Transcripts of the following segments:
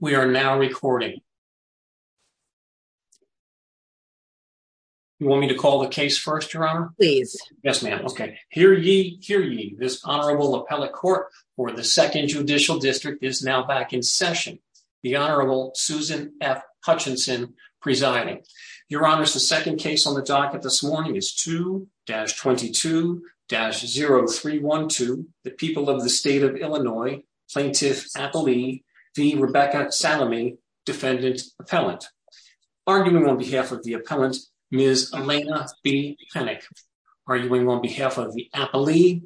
We are now recording. You want me to call the case first, Your Honor? Please. Yes, ma'am. Okay. Hear ye, hear ye. This Honorable Appellate Court for the 2nd Judicial District is now back in session. The Honorable Susan F. Hutchinson presiding. Your Honor, the second case on the docket this morning is 2-22-0312 the People of the State of Illinois Plaintiff Appellee v. Rebecca Salamie, Defendant Appellant. Arguing on behalf of the Appellant, Ms. Elena B. Panik. Arguing on behalf of the Appellee,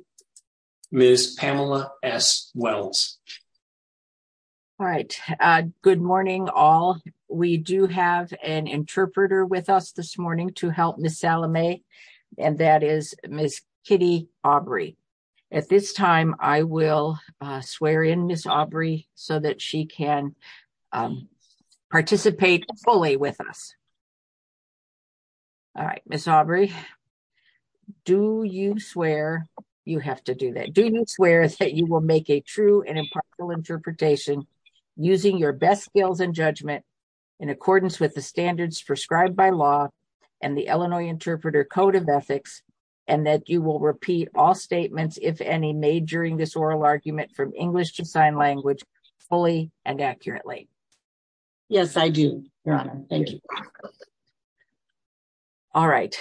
Ms. Pamela S. Wells. All right. Good morning, all. We do have an interpreter with us this morning to help Ms. Salamie, and that is Ms. Kitty Aubrey. At this time, I will swear in Ms. Aubrey so that she can participate fully with us. All right. Ms. Aubrey, do you swear, you have to do that, do you swear that you will make a true and impartial interpretation using your best skills and judgment in accordance with the standards prescribed by law and the Illinois Interpreter Code of Ethics, and that you will repeat all statements, if any, made during this oral argument from English to sign language fully and accurately? Yes, I do, Your Honor. Thank you. All right.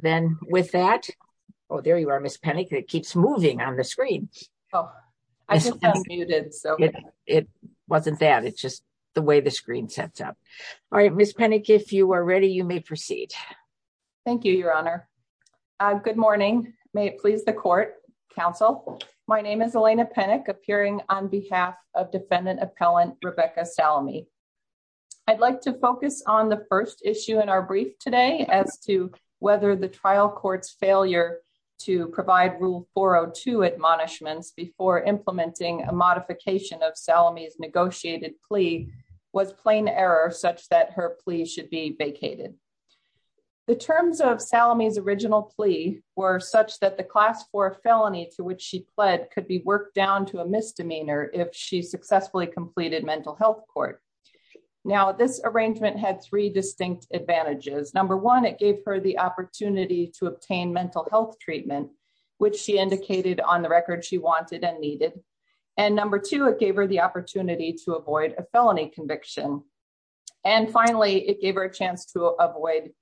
Then with that, oh, there you are, Ms. Panik. It keeps moving on the screen. Oh, I just unmuted, so. It wasn't that. It's just the way the screen sets up. All right. Ms. Panik, if you are ready, you may proceed. Thank you, Your Honor. Good morning. May it please the court, counsel. My name is Elena Panik, appearing on behalf of defendant appellant Rebecca Salamie. I'd like to focus on the first issue in our brief today as to whether the trial court's failure to provide Rule 402 admonishments before implementing a should be vacated. The terms of Salamie's original plea were such that the class 4 felony to which she pled could be worked down to a misdemeanor if she successfully completed mental health court. Now, this arrangement had three distinct advantages. Number one, it gave her the opportunity to obtain mental health treatment, which she indicated on the record she wanted and needed. And number two, it gave her the opportunity to avoid a felony conviction. And finally, it gave her a chance to avoid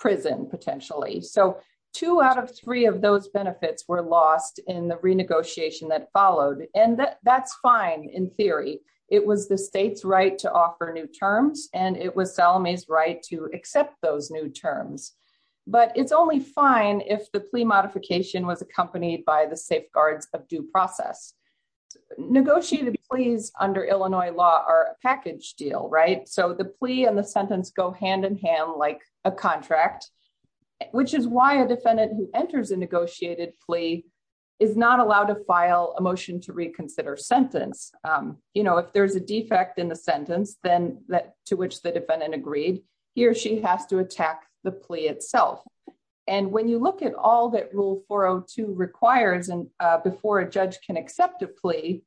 prison, potentially. So two out of three of those benefits were lost in the renegotiation that followed. And that's fine in theory. It was the state's right to offer new terms, and it was Salamie's right to accept those new terms. But it's only fine if the plea modification was accompanied by the safeguards of due process. Negotiated pleas under Illinois law are a package deal, right? So the plea and the sentence go hand in hand like a contract, which is why a defendant who enters a negotiated plea is not allowed to file a motion to reconsider sentence. You know, if there's a defect in the sentence, then that to which the defendant agreed, he or she has to attack the plea itself. And when you look at all that 402 requires before a judge can accept a plea,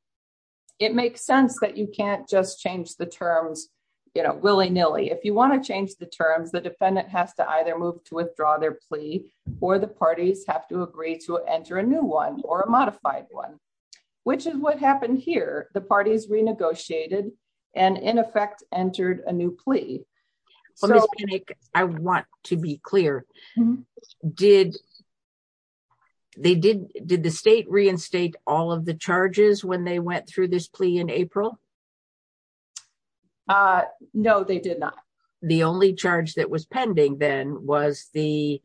it makes sense that you can't just change the terms, you know, willy nilly. If you want to change the terms, the defendant has to either move to withdraw their plea, or the parties have to agree to enter a new one or a modified one, which is what happened here. The parties renegotiated and in effect entered a new plea. So I want to be clear. Did they did the state reinstate all of the charges when they went through this plea in April? No, they did not. The only charge that was pending then was the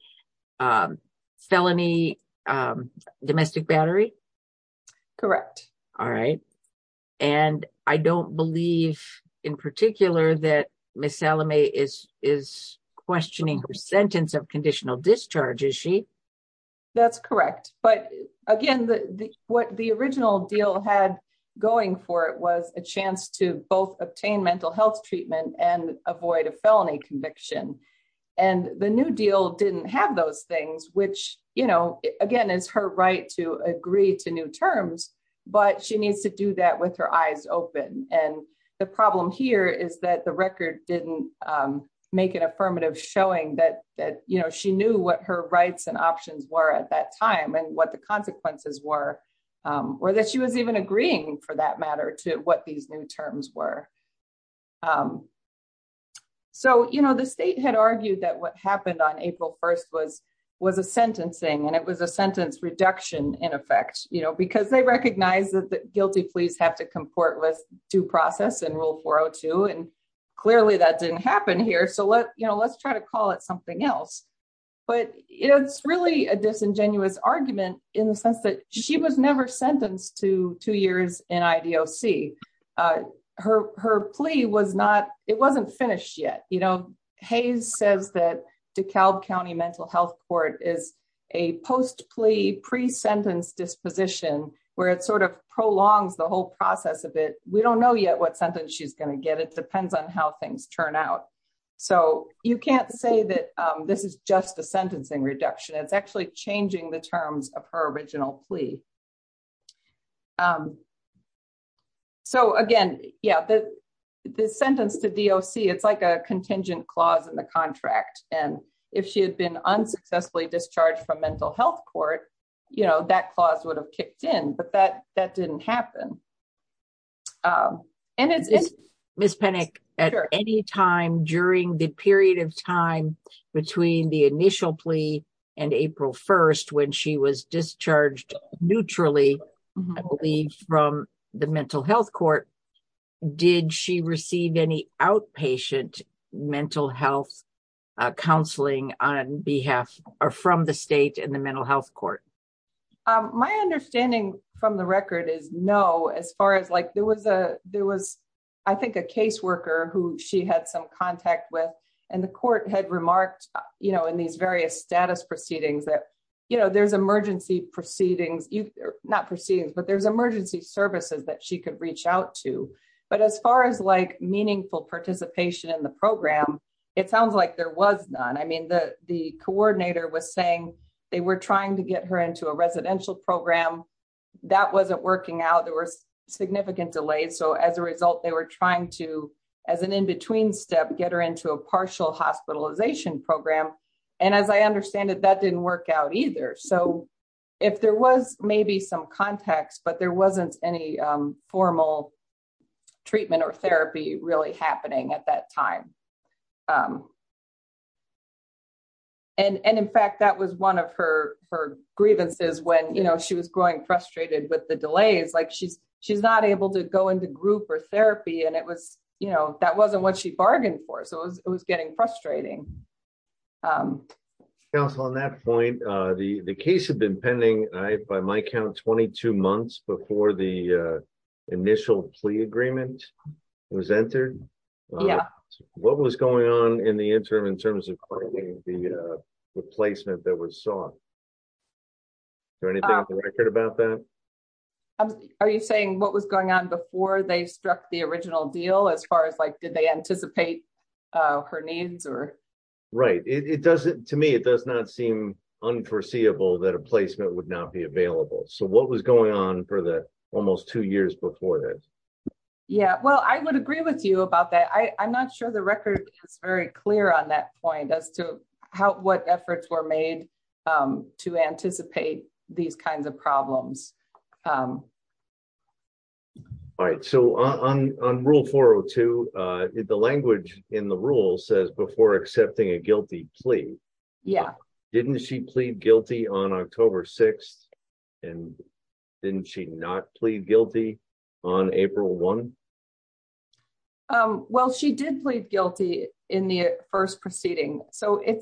felony domestic battery. Correct. All right. And I don't believe in particular that Ms. Salome is questioning her sentence of conditional discharge, is she? That's correct. But again, what the original deal had going for it was a chance to both obtain mental health treatment and avoid a felony conviction. And the new deal didn't have those things, which, you know, again, is her right to agree to new terms. But she needs to do that with her eyes open. And the problem here is that the record didn't make an affirmative showing that, that, you know, she knew what her rights and options were at that time, and what the consequences were, or that she was even agreeing for that matter to what these new terms were. So, you know, the state had argued that what happened on April 1 was, was a sentencing, and it was a sentence reduction in effect, you know, because they recognize that the guilty pleas have to comport with due process and Rule 402. And clearly, that didn't happen here. So let, you know, let's try to call it something else. But it's really a disingenuous argument, in the sense that she was never sentenced to two years in IDOC. Her plea was not, it wasn't finished yet. You know, Hayes says that DeKalb County Mental Health Court is a post plea pre-sentence disposition, where it sort of prolongs the whole process of it, we don't know yet what sentence she's going to get, it depends on how things turn out. So you can't say that this is just a sentencing reduction, it's actually changing the terms of her original plea. So again, yeah, the sentence to DOC, it's like a contingent clause in the contract. And if she had been unsuccessfully discharged from Mental Health Court, you know, that clause would have kicked in, but that that didn't happen. And it's Ms. Penick at any time during the period of time between the initial plea and April 1, when she was discharged neutrally, I believe from the Mental Health Court, did she receive any outpatient mental health counseling on behalf or from the state and the Mental Health Court? My understanding from the record is no, as far as like there was a, there was, I think a caseworker who she had some contact with, and the court had remarked, you know, in these various status proceedings that, you know, there's emergency proceedings, not proceedings, but there's meaningful participation in the program. It sounds like there was none. I mean, the coordinator was saying they were trying to get her into a residential program. That wasn't working out. There were significant delays. So as a result, they were trying to, as an in-between step, get her into a partial hospitalization program. And as I understand it, that didn't work out either. So if there was maybe some context, but there wasn't any formal treatment or therapy really happening at that time. And in fact, that was one of her grievances when, you know, she was growing frustrated with the delays, like she's not able to go into group or therapy. And it was, you know, that wasn't what she bargained for. So it was getting frustrating. So on that point, the case had been pending, by my count, 22 months before the initial plea agreement was entered. What was going on in the interim in terms of replacement that was sought? Is there anything on the record about that? Are you saying what was going on before they struck the original deal as far as like, they anticipate her needs or? Right. It doesn't, to me, it does not seem unforeseeable that a placement would not be available. So what was going on for the almost two years before that? Yeah, well, I would agree with you about that. I'm not sure the record is very clear on that point as to how, what efforts were made to anticipate these kinds of problems. All right. So on rule 402, the language in the rule says before accepting a guilty plea. Yeah. Didn't she plead guilty on October 6th? And didn't she not plead guilty on April 1? Well, she did plead guilty in the first proceeding. So if,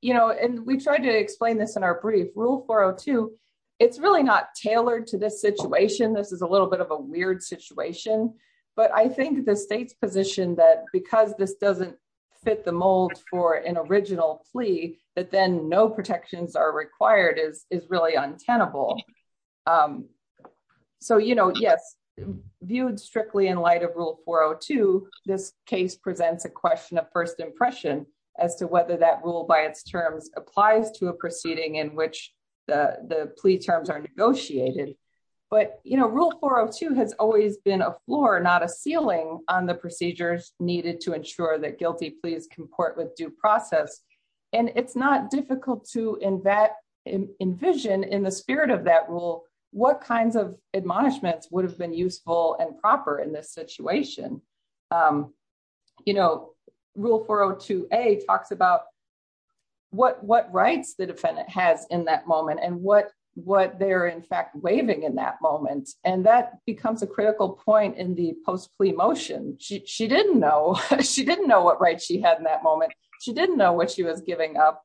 you know, and we tried to explain this in brief, rule 402, it's really not tailored to this situation. This is a little bit of a weird situation, but I think the state's position that because this doesn't fit the mold for an original plea, that then no protections are required is really untenable. So, you know, yes, viewed strictly in light of rule 402, this case presents a question of first impression as to whether that the plea terms are negotiated. But, you know, rule 402 has always been a floor, not a ceiling on the procedures needed to ensure that guilty pleas comport with due process. And it's not difficult to envision in the spirit of that rule, what kinds of admonishments would have been useful and proper in this situation. You know, rule 402A talks about what rights the in that moment and what they're in fact waiving in that moment. And that becomes a critical point in the post-plea motion. She didn't know what right she had in that moment. She didn't know what she was giving up.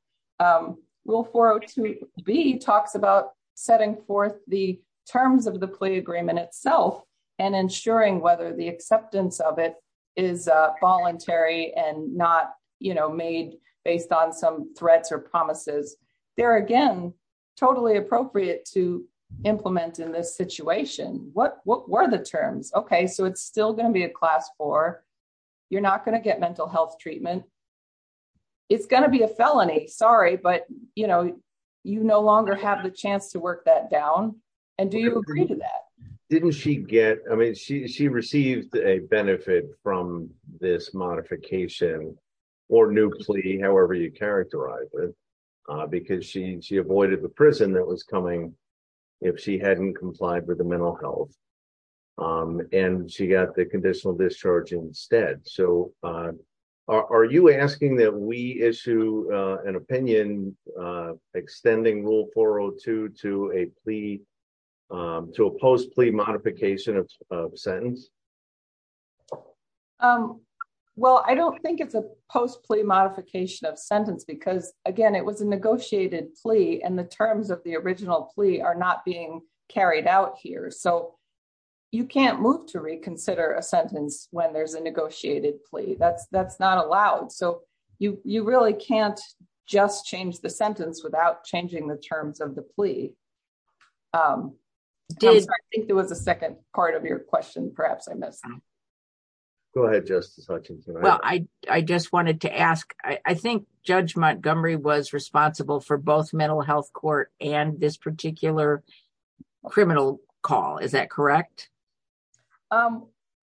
Rule 402B talks about setting forth the terms of the plea agreement itself and ensuring whether the acceptance of it is voluntary and not, you know, made on some threats or promises. There again, totally appropriate to implement in this situation. What were the terms? Okay. So it's still going to be a class four. You're not going to get mental health treatment. It's going to be a felony. Sorry, but, you know, you no longer have the chance to work that down. And do you agree to that? Didn't she get, I mean, she received a benefit from this modification or new plea, however you characterize it, because she avoided the prison that was coming if she hadn't complied with the mental health. And she got the conditional discharge instead. So are you asking that we issue an opinion extending rule 402 to a plea, to a post plea modification of sentence? Well, I don't think it's a post plea modification of sentence because again, it was a negotiated plea and the terms of the original plea are not being carried out here. So you can't move to reconsider a sentence when there's a negotiated plea. That's not allowed. So you really can't just change the sentence without changing the terms. I think there was a second part of your question, perhaps I missed. Go ahead, Justice Hutchinson. Well, I just wanted to ask, I think Judge Montgomery was responsible for both mental health court and this particular criminal call. Is that correct?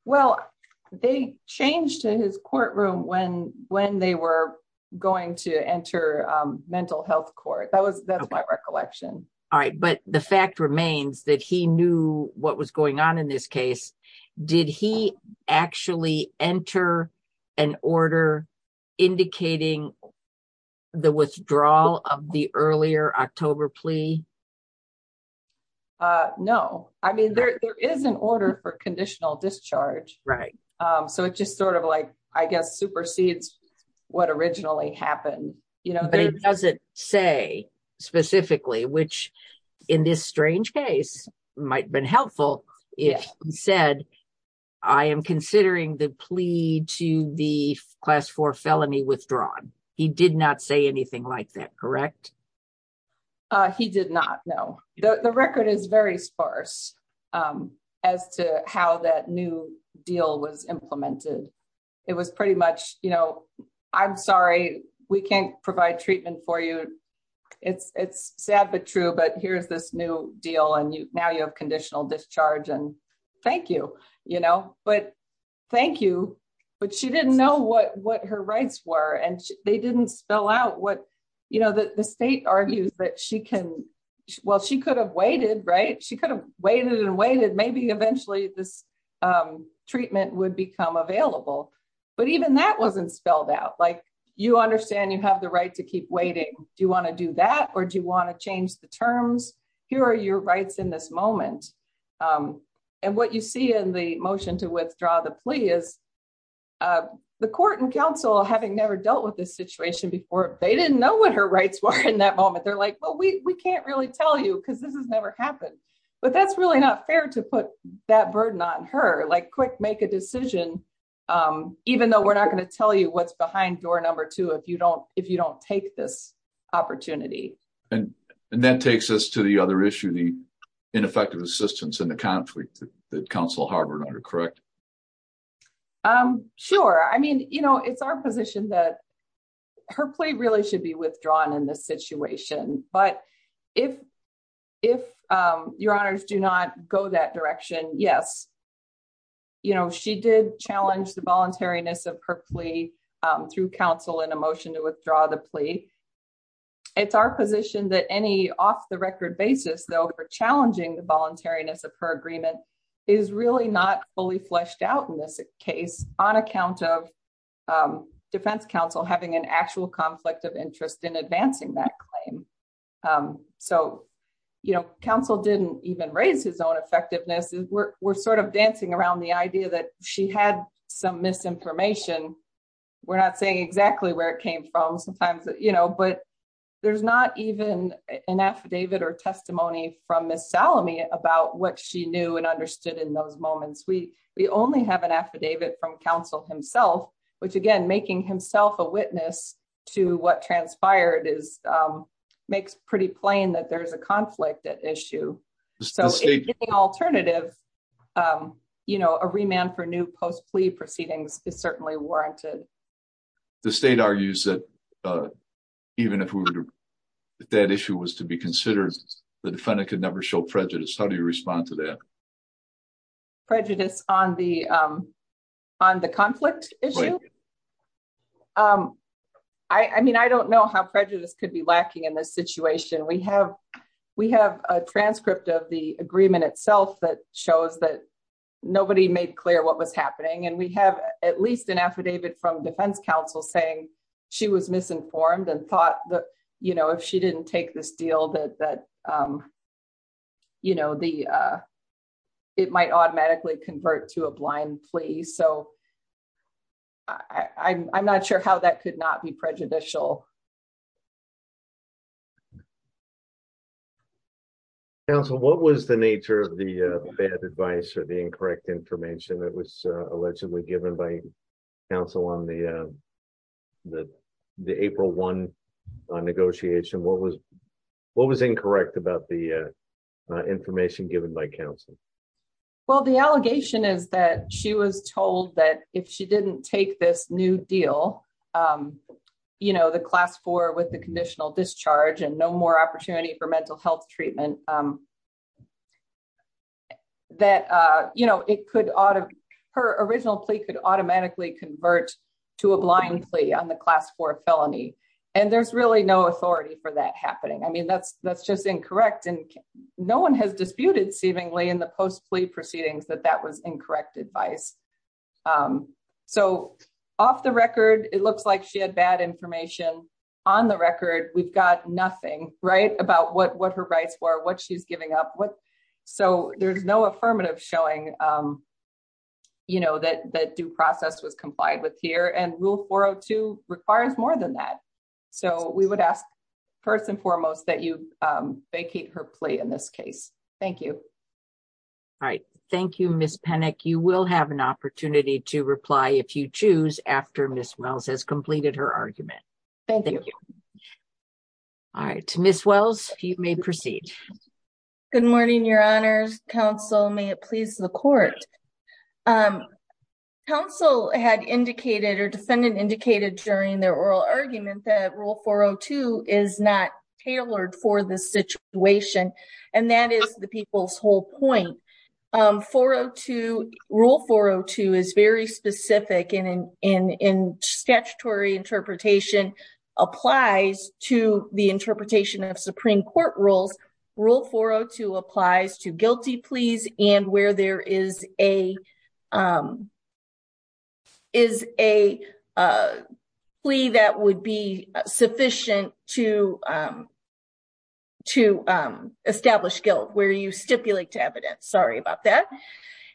Well, they changed his courtroom when they were going to enter mental health court. That's my understanding. I don't know that he knew what was going on in this case. Did he actually enter an order indicating the withdrawal of the earlier October plea? No. I mean, there is an order for conditional discharge. So it just sort of like, I guess, supersedes what originally happened. But it doesn't say specifically, which in this strange case might have been helpful if he said, I am considering the plea to the class four felony withdrawn. He did not say anything like that, correct? He did not, no. The record is very sparse as to how that new deal was implemented. It was pretty much, you know, I'm sorry, we can't provide treatment for you. It's sad, but true. But here's this new deal and now you have conditional discharge and thank you, you know, but thank you. But she didn't know what her rights were and they didn't spell out what, you know, the state argues that she can, well, she could have waited, right? She could have waited and waited. Maybe eventually this treatment would become available. But even that wasn't spelled out. Like you understand you have the right to keep waiting. Do you want to do that? Or do you want to change the terms? Here are your rights in this moment. And what you see in the motion to withdraw the plea is the court and council having never dealt with this situation before, they didn't know what her rights were in that moment. They're like, well, we can't really tell you because this has never happened, but that's really not fair to put that burden on her, like quick, make a decision. Even though we're not going to tell you what's behind door number two, if you don't take this opportunity. And that takes us to the other issue, the ineffective assistance in the conflict that council harbored. Are you correct? Sure. I mean, you know, it's our position that her plea really should be withdrawn in this situation. But if your honors do not go that direction, yes, you know, she did challenge the voluntariness of her plea through counsel in a motion to withdraw the plea. It's our position that any off the record basis, though, for challenging the voluntariness of her agreement is really not fully fleshed out in this case on account of defense counsel having an actual conflict of interest in advancing that claim. So, you know, counsel didn't even raise his own misinformation. We're not saying exactly where it came from sometimes, you know, but there's not even an affidavit or testimony from Ms. Salome about what she knew and understood in those moments. We only have an affidavit from counsel himself, which again, making himself a witness to what transpired is makes pretty plain that there's a conflict at issue. So the alternative, you know, a remand for new post plea proceedings is certainly warranted. The state argues that even if that issue was to be considered, the defendant could never show prejudice. How do you respond to that? Prejudice on the conflict issue? I mean, I don't know how prejudice could be lacking in this situation. We have a transcript of the agreement itself that shows that nobody made clear what was happening. And we have at least an affidavit from defense counsel saying she was misinformed and thought that, you know, if she didn't take this deal that, you know, it might automatically convert to a blind plea. So I'm not sure how that could not be prejudicial. Counsel, what was the nature of the bad advice or the incorrect information that was allegedly given by counsel on the April one negotiation? What was incorrect about the information given by counsel? Well, the allegation is that she was told that if she didn't take this new deal, you know, the class four with the conditional discharge and no more opportunity for mental health treatment, that, you know, it could, her original plea could automatically convert to a blind plea on the class four felony. And there's really no authority for that happening. I mean, that's just incorrect. And no one has disputed seemingly in the post plea proceedings that that was incorrect advice. So off the record, it looks like she had bad information. On the record, we've got nothing, right, about what her rights were, what she's giving up. So there's no affirmative showing, you know, that due process was complied with here. And rule 402 requires more than that. So we would ask, first and foremost, that you vacate her plea in this case. Thank you. All right. Thank you, Ms. Penick. You will have an opportunity to reply if you choose after Ms. Wells has completed her argument. Thank you. All right. Ms. Wells, you may proceed. Good morning, Your Honors. Counsel, may it please the court. Counsel had indicated or defendant indicated during their oral argument that rule 402 is not tailored for this situation. And that is the people's whole point. 402, rule 402 is very specific in statutory interpretation applies to the interpretation of Supreme Court rules. Rule 402 applies to guilty pleas and where there is a plea that would be sufficient to establish guilt where you stipulate to evidence. Sorry about that.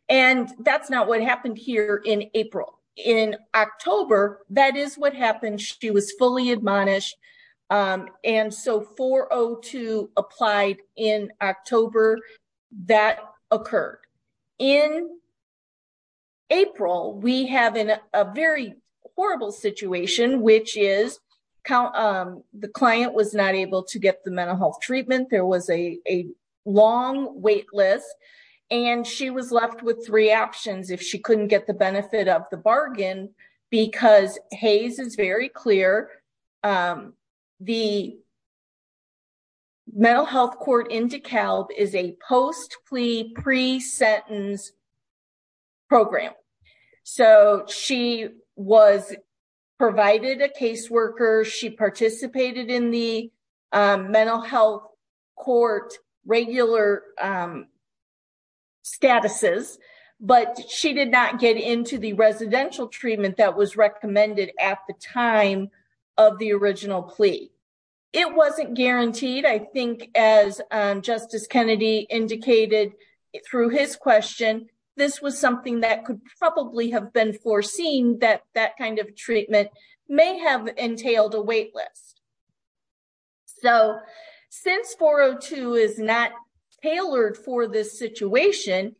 And that's not what happened here in April. In October, that is what happened. She was fully admonished. And so 402 applied in October, that occurred. In April, we have a very horrible situation, which is the client was not able to get the mental health treatment. There was a long wait list. And she was left with three options if she couldn't get the benefit of the the mental health court in DeKalb is a post-plea pre-sentence program. So she was provided a caseworker, she participated in the mental health court regular statuses, but she did not get into the residential treatment that was recommended at the time of the original plea. It wasn't guaranteed. I think as Justice Kennedy indicated through his question, this was something that could probably have been foreseen that that kind of treatment may have entailed a wait list. So since 402 is not tailored for this situation,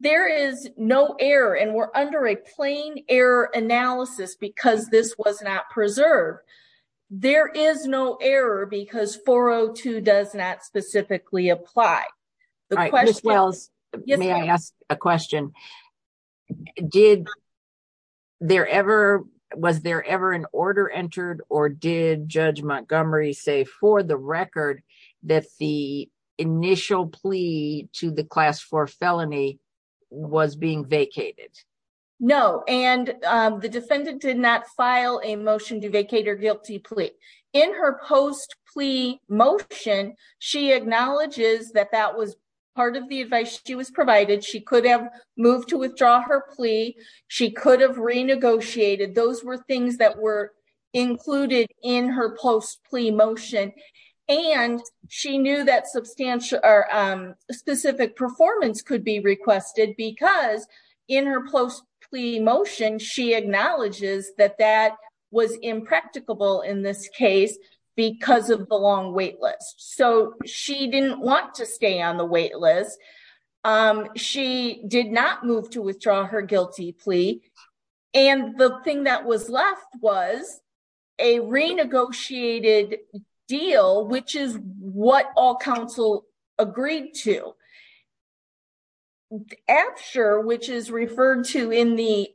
there is no error and we're under a plain error analysis because this was not preserved. There is no error because 402 does not specifically apply. All right, Ms. Wells, may I ask a question? Was there ever an order entered or did Judge Felony was being vacated? No, and the defendant did not file a motion to vacate her guilty plea. In her post-plea motion, she acknowledges that that was part of the advice she was provided. She could have moved to withdraw her plea. She could have renegotiated. Those were things that included in her post-plea motion and she knew that specific performance could be requested because in her post-plea motion, she acknowledges that that was impracticable in this case because of the long wait list. So she didn't want to stay on the wait list. She did not move to withdraw her guilty plea and the thing that was left was a renegotiated deal, which is what all counsel agreed to. After, which is referred to in the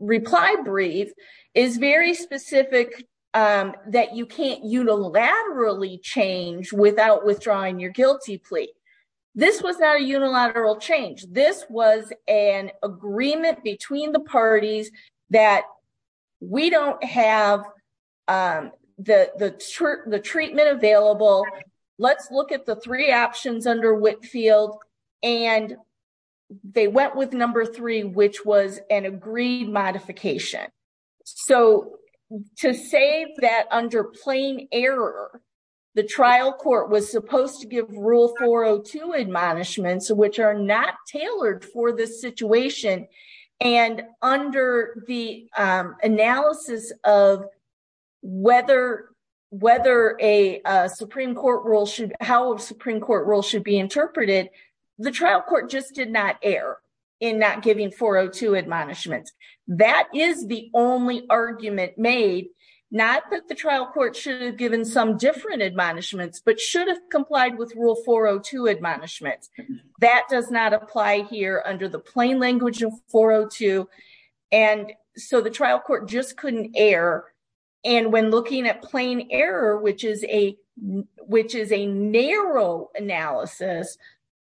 reply brief, is very specific that you can't unilaterally change without withdrawing your guilty plea. This was not a unilateral change. This was an agreement between the parties that we don't have the treatment available. Let's look at the three options under Whitfield and they went with number three, which was an plain error. The trial court was supposed to give rule 402 admonishments, which are not tailored for this situation and under the analysis of how a Supreme Court rule should be interpreted, the trial court just did not err in not giving 402 admonishments. That is the only argument made, not that the trial court should have given some different admonishments, but should have complied with rule 402 admonishments. That does not apply here under the plain language of 402 and so the trial court just couldn't err and when looking at plain error, which is a narrow analysis,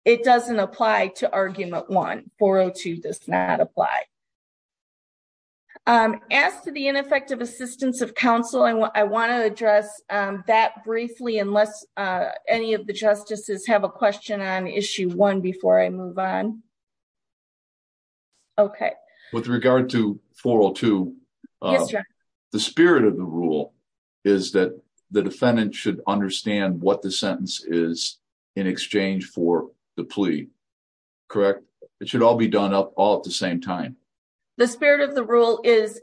it doesn't apply to argument one. 402 does not apply. I'm asked for the ineffective assistance of counsel and I want to address that briefly unless any of the justices have a question on issue one before I move on. Okay. With regard to 402, the spirit of the rule is that the defendant should understand what the sentence is in exchange for the plea. Correct? It should all be done up all at the same time. The spirit of the rule is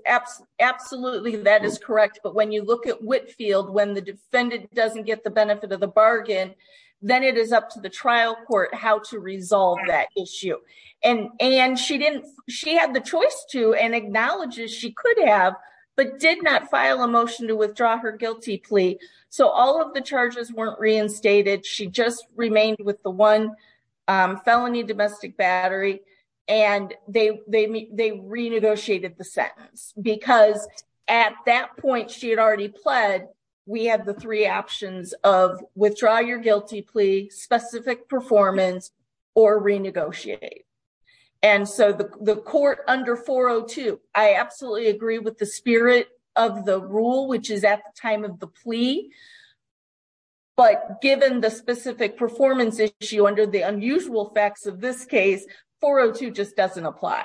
absolutely that is correct, but when you look at Whitfield, when the defendant doesn't get the benefit of the bargain, then it is up to the trial court how to resolve that issue. She had the choice to and acknowledges she could have, but did not file a motion to withdraw her guilty plea, so all of the charges weren't reinstated. She just remained with the one felony domestic battery and they renegotiated the sentence because at that point she had already pled, we had the three options of withdraw your guilty plea, specific performance, or renegotiate. The court under 402, I absolutely agree with the spirit of the rule, which is at the time of the plea, but given the specific performance issue under the unusual facts of this case, 402 just doesn't apply.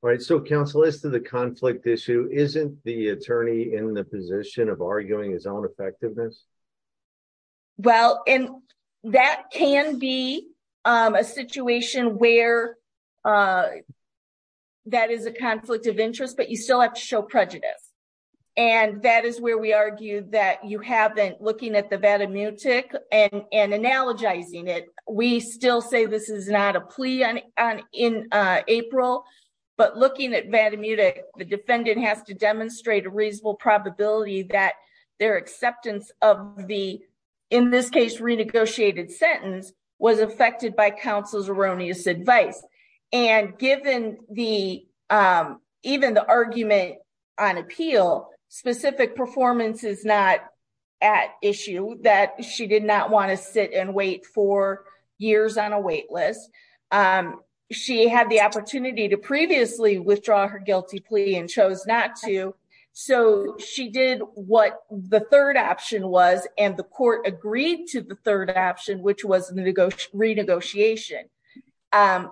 All right. So counsel, as to the conflict issue, isn't the attorney in the position of arguing his own effectiveness? Well, and that can be a situation where that is a conflict of interest, but you still have to show prejudice. And that is where we argue that you haven't, looking at the Vatimutic and analogizing it, we still say this is not a plea in April, but looking at Vatimutic, the defendant has to was affected by counsel's erroneous advice. And given the, even the argument on appeal, specific performance is not at issue that she did not want to sit and wait for years on a wait list. She had the opportunity to previously withdraw her guilty plea and chose not to. So she did what the third option was and the court agreed to the third option, which was renegotiation.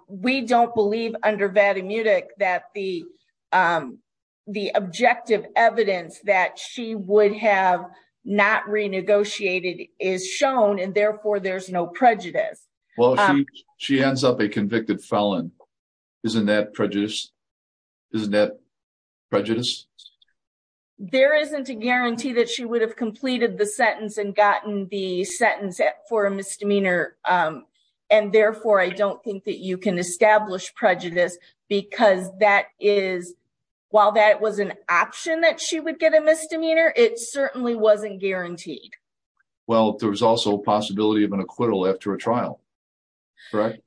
We don't believe under Vatimutic that the objective evidence that she would have not renegotiated is shown and therefore there's no prejudice. Well, she ends up a convicted felon. Isn't that prejudice? Isn't that prejudice? There isn't a guarantee that she would have completed the sentence and gotten the sentence for a misdemeanor. And therefore I don't think that you can establish prejudice because that is, while that was an option that she would get a misdemeanor, it certainly wasn't guaranteed. Well, there was also a possibility of an trial, correct?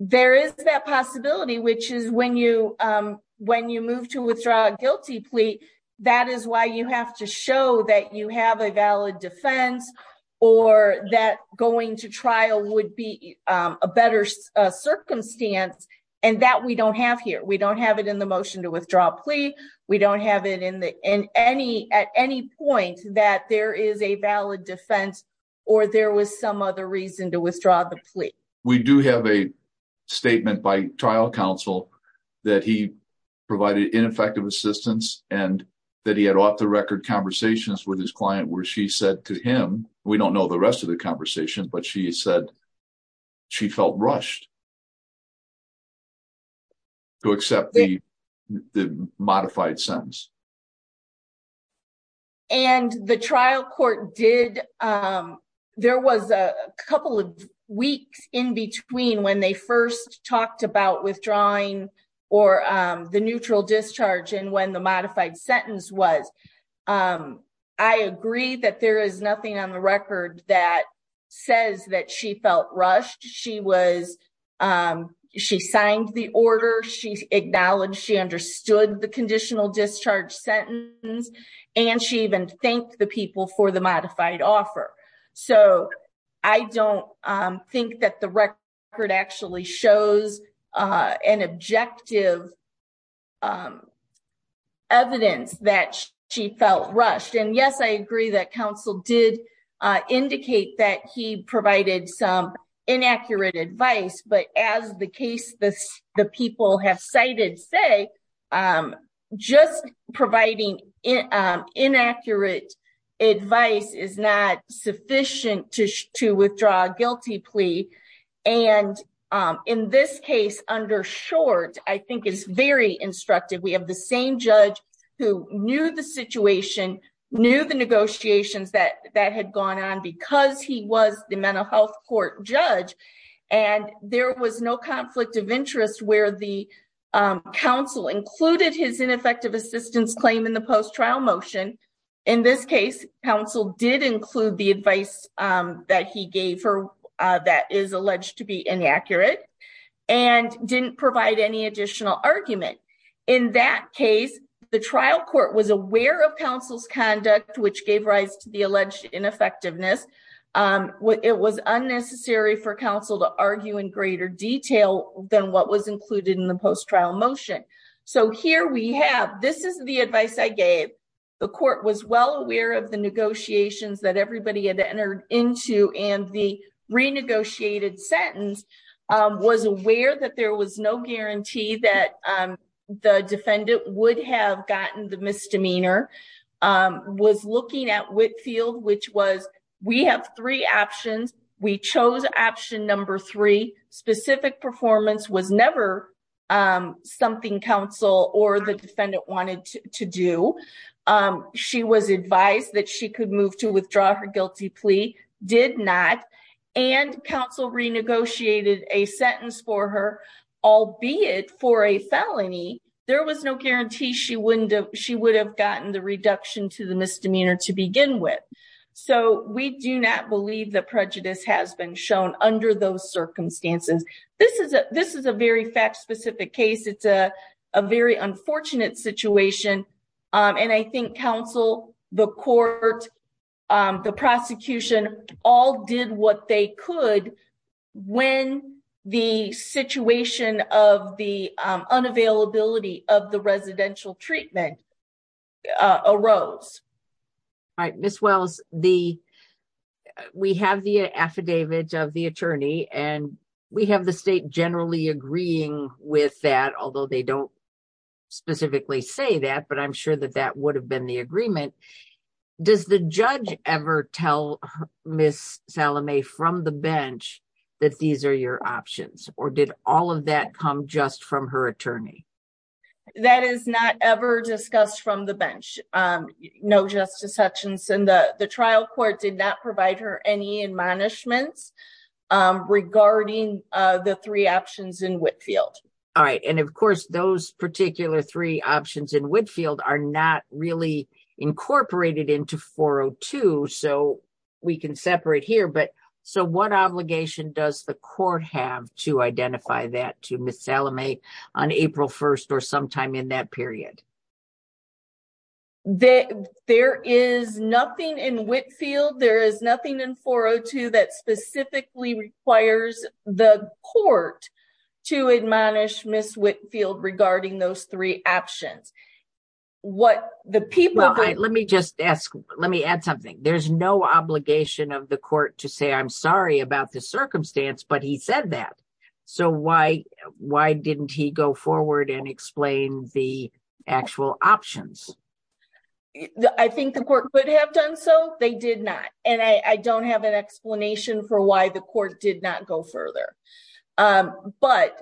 There is that possibility, which is when you, when you move to withdraw a guilty plea, that is why you have to show that you have a valid defense or that going to trial would be a better circumstance. And that we don't have here. We don't have it in the motion to withdraw plea. We don't have it in the, in any, at any point that there is a valid defense or there was some other reason to withdraw the plea. We do have a statement by trial counsel that he provided ineffective assistance and that he had off the record conversations with his client where she said to him, we don't know the rest of the conversation, but she said she felt rushed to accept the modified sentence. And the trial court did, there was a couple of weeks in between when they first talked about withdrawing or the neutral discharge and when the modified sentence was. I agree that there is nothing on the record that says that she felt rushed. She was, she signed the order. She acknowledged, she understood the conditional discharge sentence and she even thanked the people for the modified offer. So I don't think that the record actually shows an objective evidence that she felt rushed. And yes, I agree that counsel did indicate that he provided some say, just providing inaccurate advice is not sufficient to, to withdraw a guilty plea. And in this case under short, I think it's very instructive. We have the same judge who knew the situation, knew the negotiations that that had gone on because he was the mental health court and there was no conflict of interest where the counsel included his ineffective assistance claim in the post trial motion. In this case, counsel did include the advice that he gave her that is alleged to be inaccurate and didn't provide any additional argument. In that case, the trial court was aware of counsel's conduct, which gave rise to the alleged ineffectiveness. It was unnecessary for counsel to argue in greater detail than what was included in the post trial motion. So here we have, this is the advice I gave. The court was well aware of the negotiations that everybody had entered into and the renegotiated sentence was aware that there was no guarantee that the defendant would have gotten the misdemeanor, was looking at Whitfield, which was we have three options. We chose option number three, specific performance was never something counsel or the defendant wanted to do. She was advised that she could move to withdraw her guilty plea, did not. And counsel renegotiated a sentence for her, albeit for a felony. There was no guarantee she wouldn't have, she would have gotten the reduction to the misdemeanor to begin with. So we do not believe that prejudice has been shown under those circumstances. This is a very fact specific case. It's a very unfortunate situation. And I think counsel, the court, the prosecution all did what they could when the situation of the unavailability of the residential treatment arose. All right, Ms. Wells, we have the affidavit of the attorney and we have the state generally agreeing with that, although they don't specifically say that, but I'm sure that that would have been the agreement. Does the judge ever tell Ms. Salome from the bench that these are your options or did all of that come just from her attorney? That is not ever discussed from the bench. No, Justice Hutchinson, the trial court did not provide her any admonishments regarding the three options in Whitfield. All right. And of course, those particular three options in Whitfield are not really incorporated into 402. So we can separate here. So what obligation does the court have to identify that to Ms. Salome on April 1st or sometime in that period? There is nothing in Whitfield, there is nothing in 402 that specifically requires the court to admonish Ms. Whitfield regarding those three options. What the people- Well, let me just ask, let me add something. There's no obligation of the court to say, I'm sorry about the circumstance, but he said that. So why didn't he go forward and explain the actual options? I think the court could have done so, they did not. And I don't have an explanation for why the court did not go further. But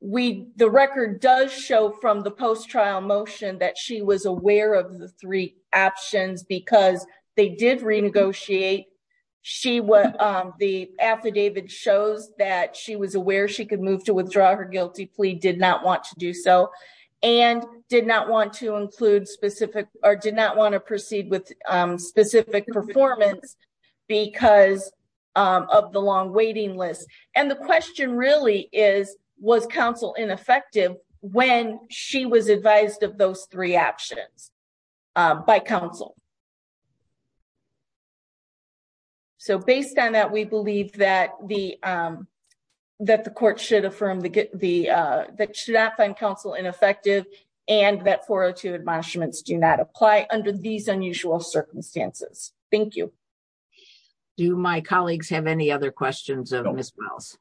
the record does show from the post-trial motion that she was aware of the three options because they did renegotiate. The affidavit shows that she was aware she could move to withdraw her guilty plea, did not want to and did not want to include specific or did not want to proceed with specific performance because of the long waiting list. And the question really is, was counsel ineffective when she was advised of those three options by counsel? So based on that, we believe that the court should affirm, that should not find counsel ineffective and that 402 admonishments do not apply under these unusual circumstances. Thank you. Do my colleagues have any other questions of Ms. Wells?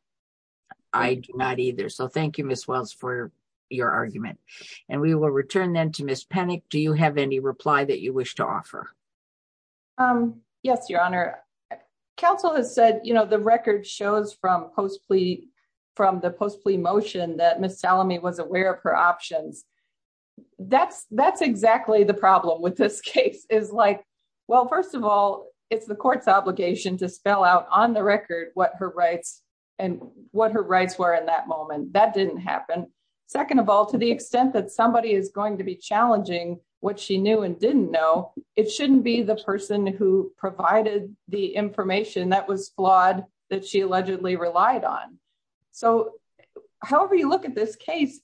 I do not either. So thank you, Ms. Wells, for your argument. And we will return then to Ms. Pennick. Do you have any reply that you wish to offer? Yes, Your Honor. Counsel has said the record shows from the post-plea motion that Ms. Salome was aware of her options. That's exactly the problem with this case is like, well, first of all, it's the court's obligation to spell out on the record what her rights were in that moment. That didn't happen. Second of all, to the extent that somebody is going to be it shouldn't be the person who provided the information that was flawed that she allegedly relied on. So however you look at this case,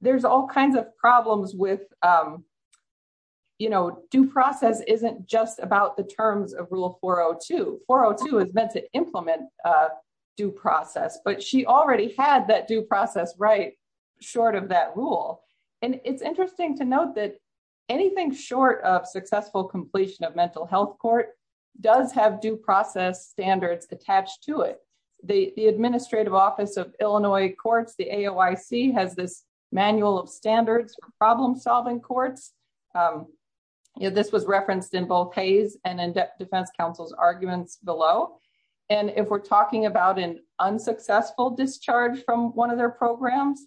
there's all kinds of problems with due process isn't just about the terms of rule 402. 402 is meant to implement due process, but she already had that due process right short of that rule. And it's interesting to note that anything short of successful completion of mental health court does have due process standards attached to it. The Administrative Office of Illinois Courts, the AOIC, has this manual of standards for problem solving courts. This was referenced in both Hayes and in Defense Counsel's arguments below. And if we're talking about an unsuccessful discharge from one of their programs,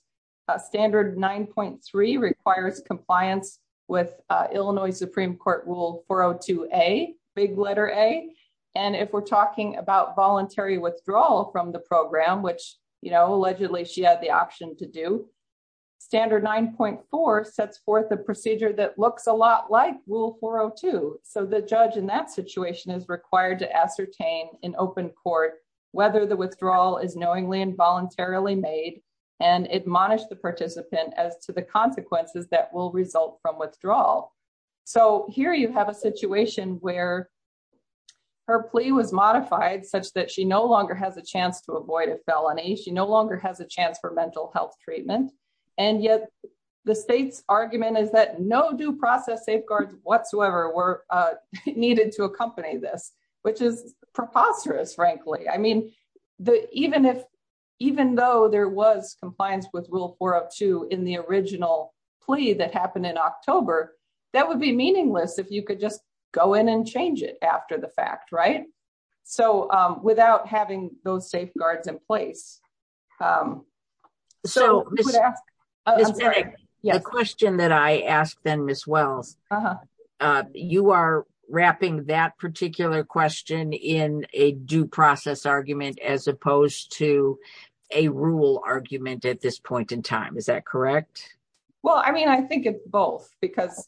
standard 9.3 requires compliance with Illinois Supreme Court rule 402A, big letter A. And if we're talking about voluntary withdrawal from the program, which, you know, allegedly she had the option to do, standard 9.4 sets forth a procedure that looks a lot like rule 402. So the judge in that situation is required to ascertain in open court whether the withdrawal is knowingly and the participant as to the consequences that will result from withdrawal. So here you have a situation where her plea was modified such that she no longer has a chance to avoid a felony. She no longer has a chance for mental health treatment. And yet the state's argument is that no due process safeguards whatsoever were needed to accompany this, which is preposterous, frankly. I mean, even though there was compliance with rule 402 in the original plea that happened in October, that would be meaningless if you could just go in and change it after the fact, right? So without having those safeguards in place. So we would ask, I'm sorry, the question that I as opposed to a rule argument at this point in time, is that correct? Well, I mean, I think it's both because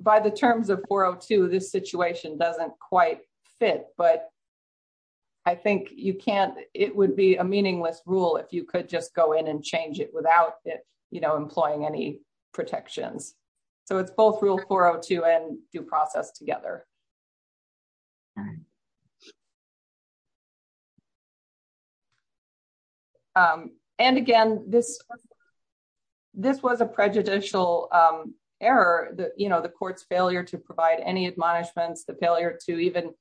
by the terms of 402, this situation doesn't quite fit, but I think you can't, it would be a meaningless rule if you could just go in and change it without it, you know, employing any protections. So it's both rule 402 and due process together. And again, this was a prejudicial error, you know, the court's failure to provide any admonishments, the failure to even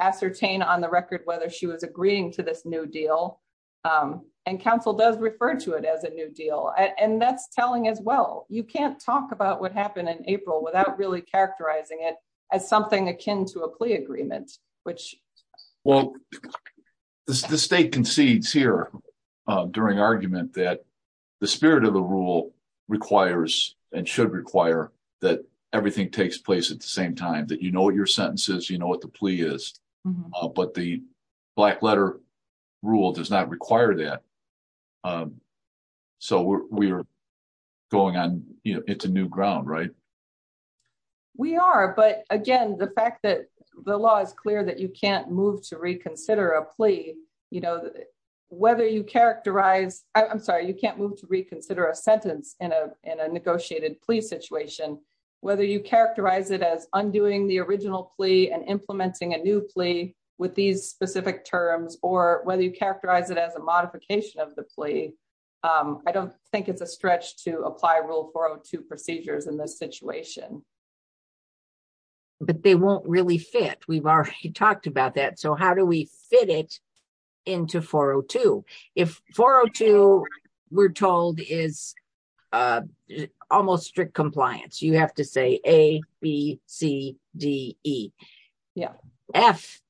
ascertain on the record whether she was agreeing to this new deal. And counsel does refer to it as a new deal. And that's telling as well. You can't talk about what happened in April without really characterizing it as something akin to a plea agreement, which... Well, the state concedes here during argument that the spirit of the rule requires and should require that everything takes place at the same time, that you know what your sentence is, you know what the plea is, but the black letter rule does not require that. So we're going on, you know, it's a new ground, right? We are, but again, the fact that the law is clear that you can't move to reconsider a plea, you know, whether you characterize, I'm sorry, you can't move to reconsider a sentence in a negotiated plea situation, whether you characterize it as undoing the original plea and implementing a new plea with these specific terms, or whether you characterize it as a modification of the plea, I don't think it's a stretch to apply rule 402 procedures in this situation. But they won't really fit. We've already talked about that. So how do we fit it into 402? If 402 we're told is almost strict compliance, you have to say A, B, C, D, E. F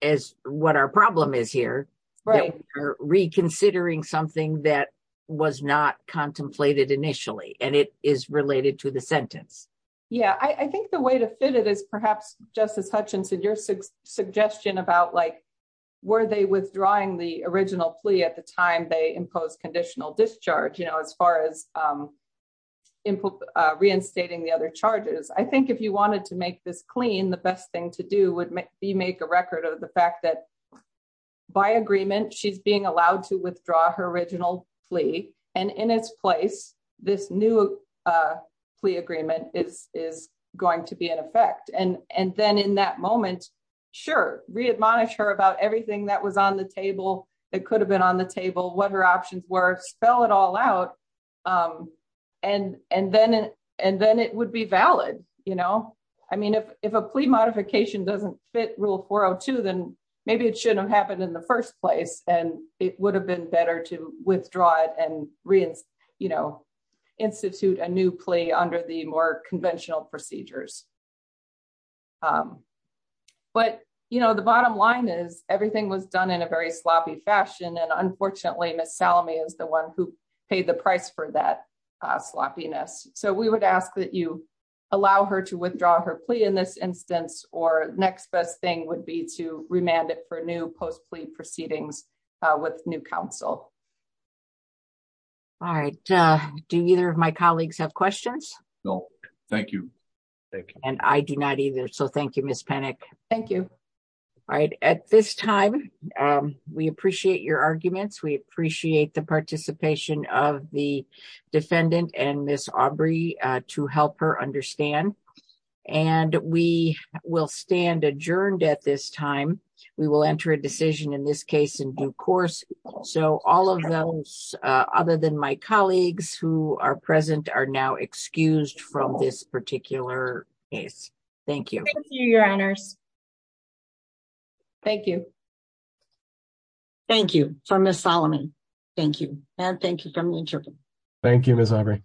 is what our problem is here. We're reconsidering something that was not contemplated initially, and it is related to the sentence. Yeah, I think the way to fit it is perhaps, Justice Hutchinson, your suggestion about like, were they withdrawing the original plea at the time they imposed conditional discharge, you know, as far as reinstating the other charges. I think you wanted to make this clean, the best thing to do would be make a record of the fact that by agreement, she's being allowed to withdraw her original plea, and in its place, this new plea agreement is going to be in effect. And then in that moment, sure, readmonish her about everything that was on the table, that could have been on the table, what her options were, spell it all out. And then it would be valid. You know, I mean, if a plea modification doesn't fit Rule 402, then maybe it shouldn't have happened in the first place. And it would have been better to withdraw it and reinstitute a new plea under the more conventional procedures. But, you know, the bottom line is everything was done in a very sloppy fashion. And unfortunately, Miss Salome is the one who paid the price for that sloppiness. So we would ask that you allow her to withdraw her plea in this instance, or next best thing would be to remand it for new post plea proceedings with new counsel. All right. Do either of my colleagues have questions? No, thank you. And I do not either. So thank you, Miss Penick. Thank you. All right. At this time, we appreciate your arguments. We appreciate the participation of the defendant and Miss Aubrey to help her understand. And we will stand adjourned at this time, we will enter a decision in this case in due course. So all of those other than my colleagues who are present are now excused from this particular case. Thank you, your honors. Thank you. Thank you for Miss Solomon. Thank you. And thank you for me. Thank you, Miss Aubrey.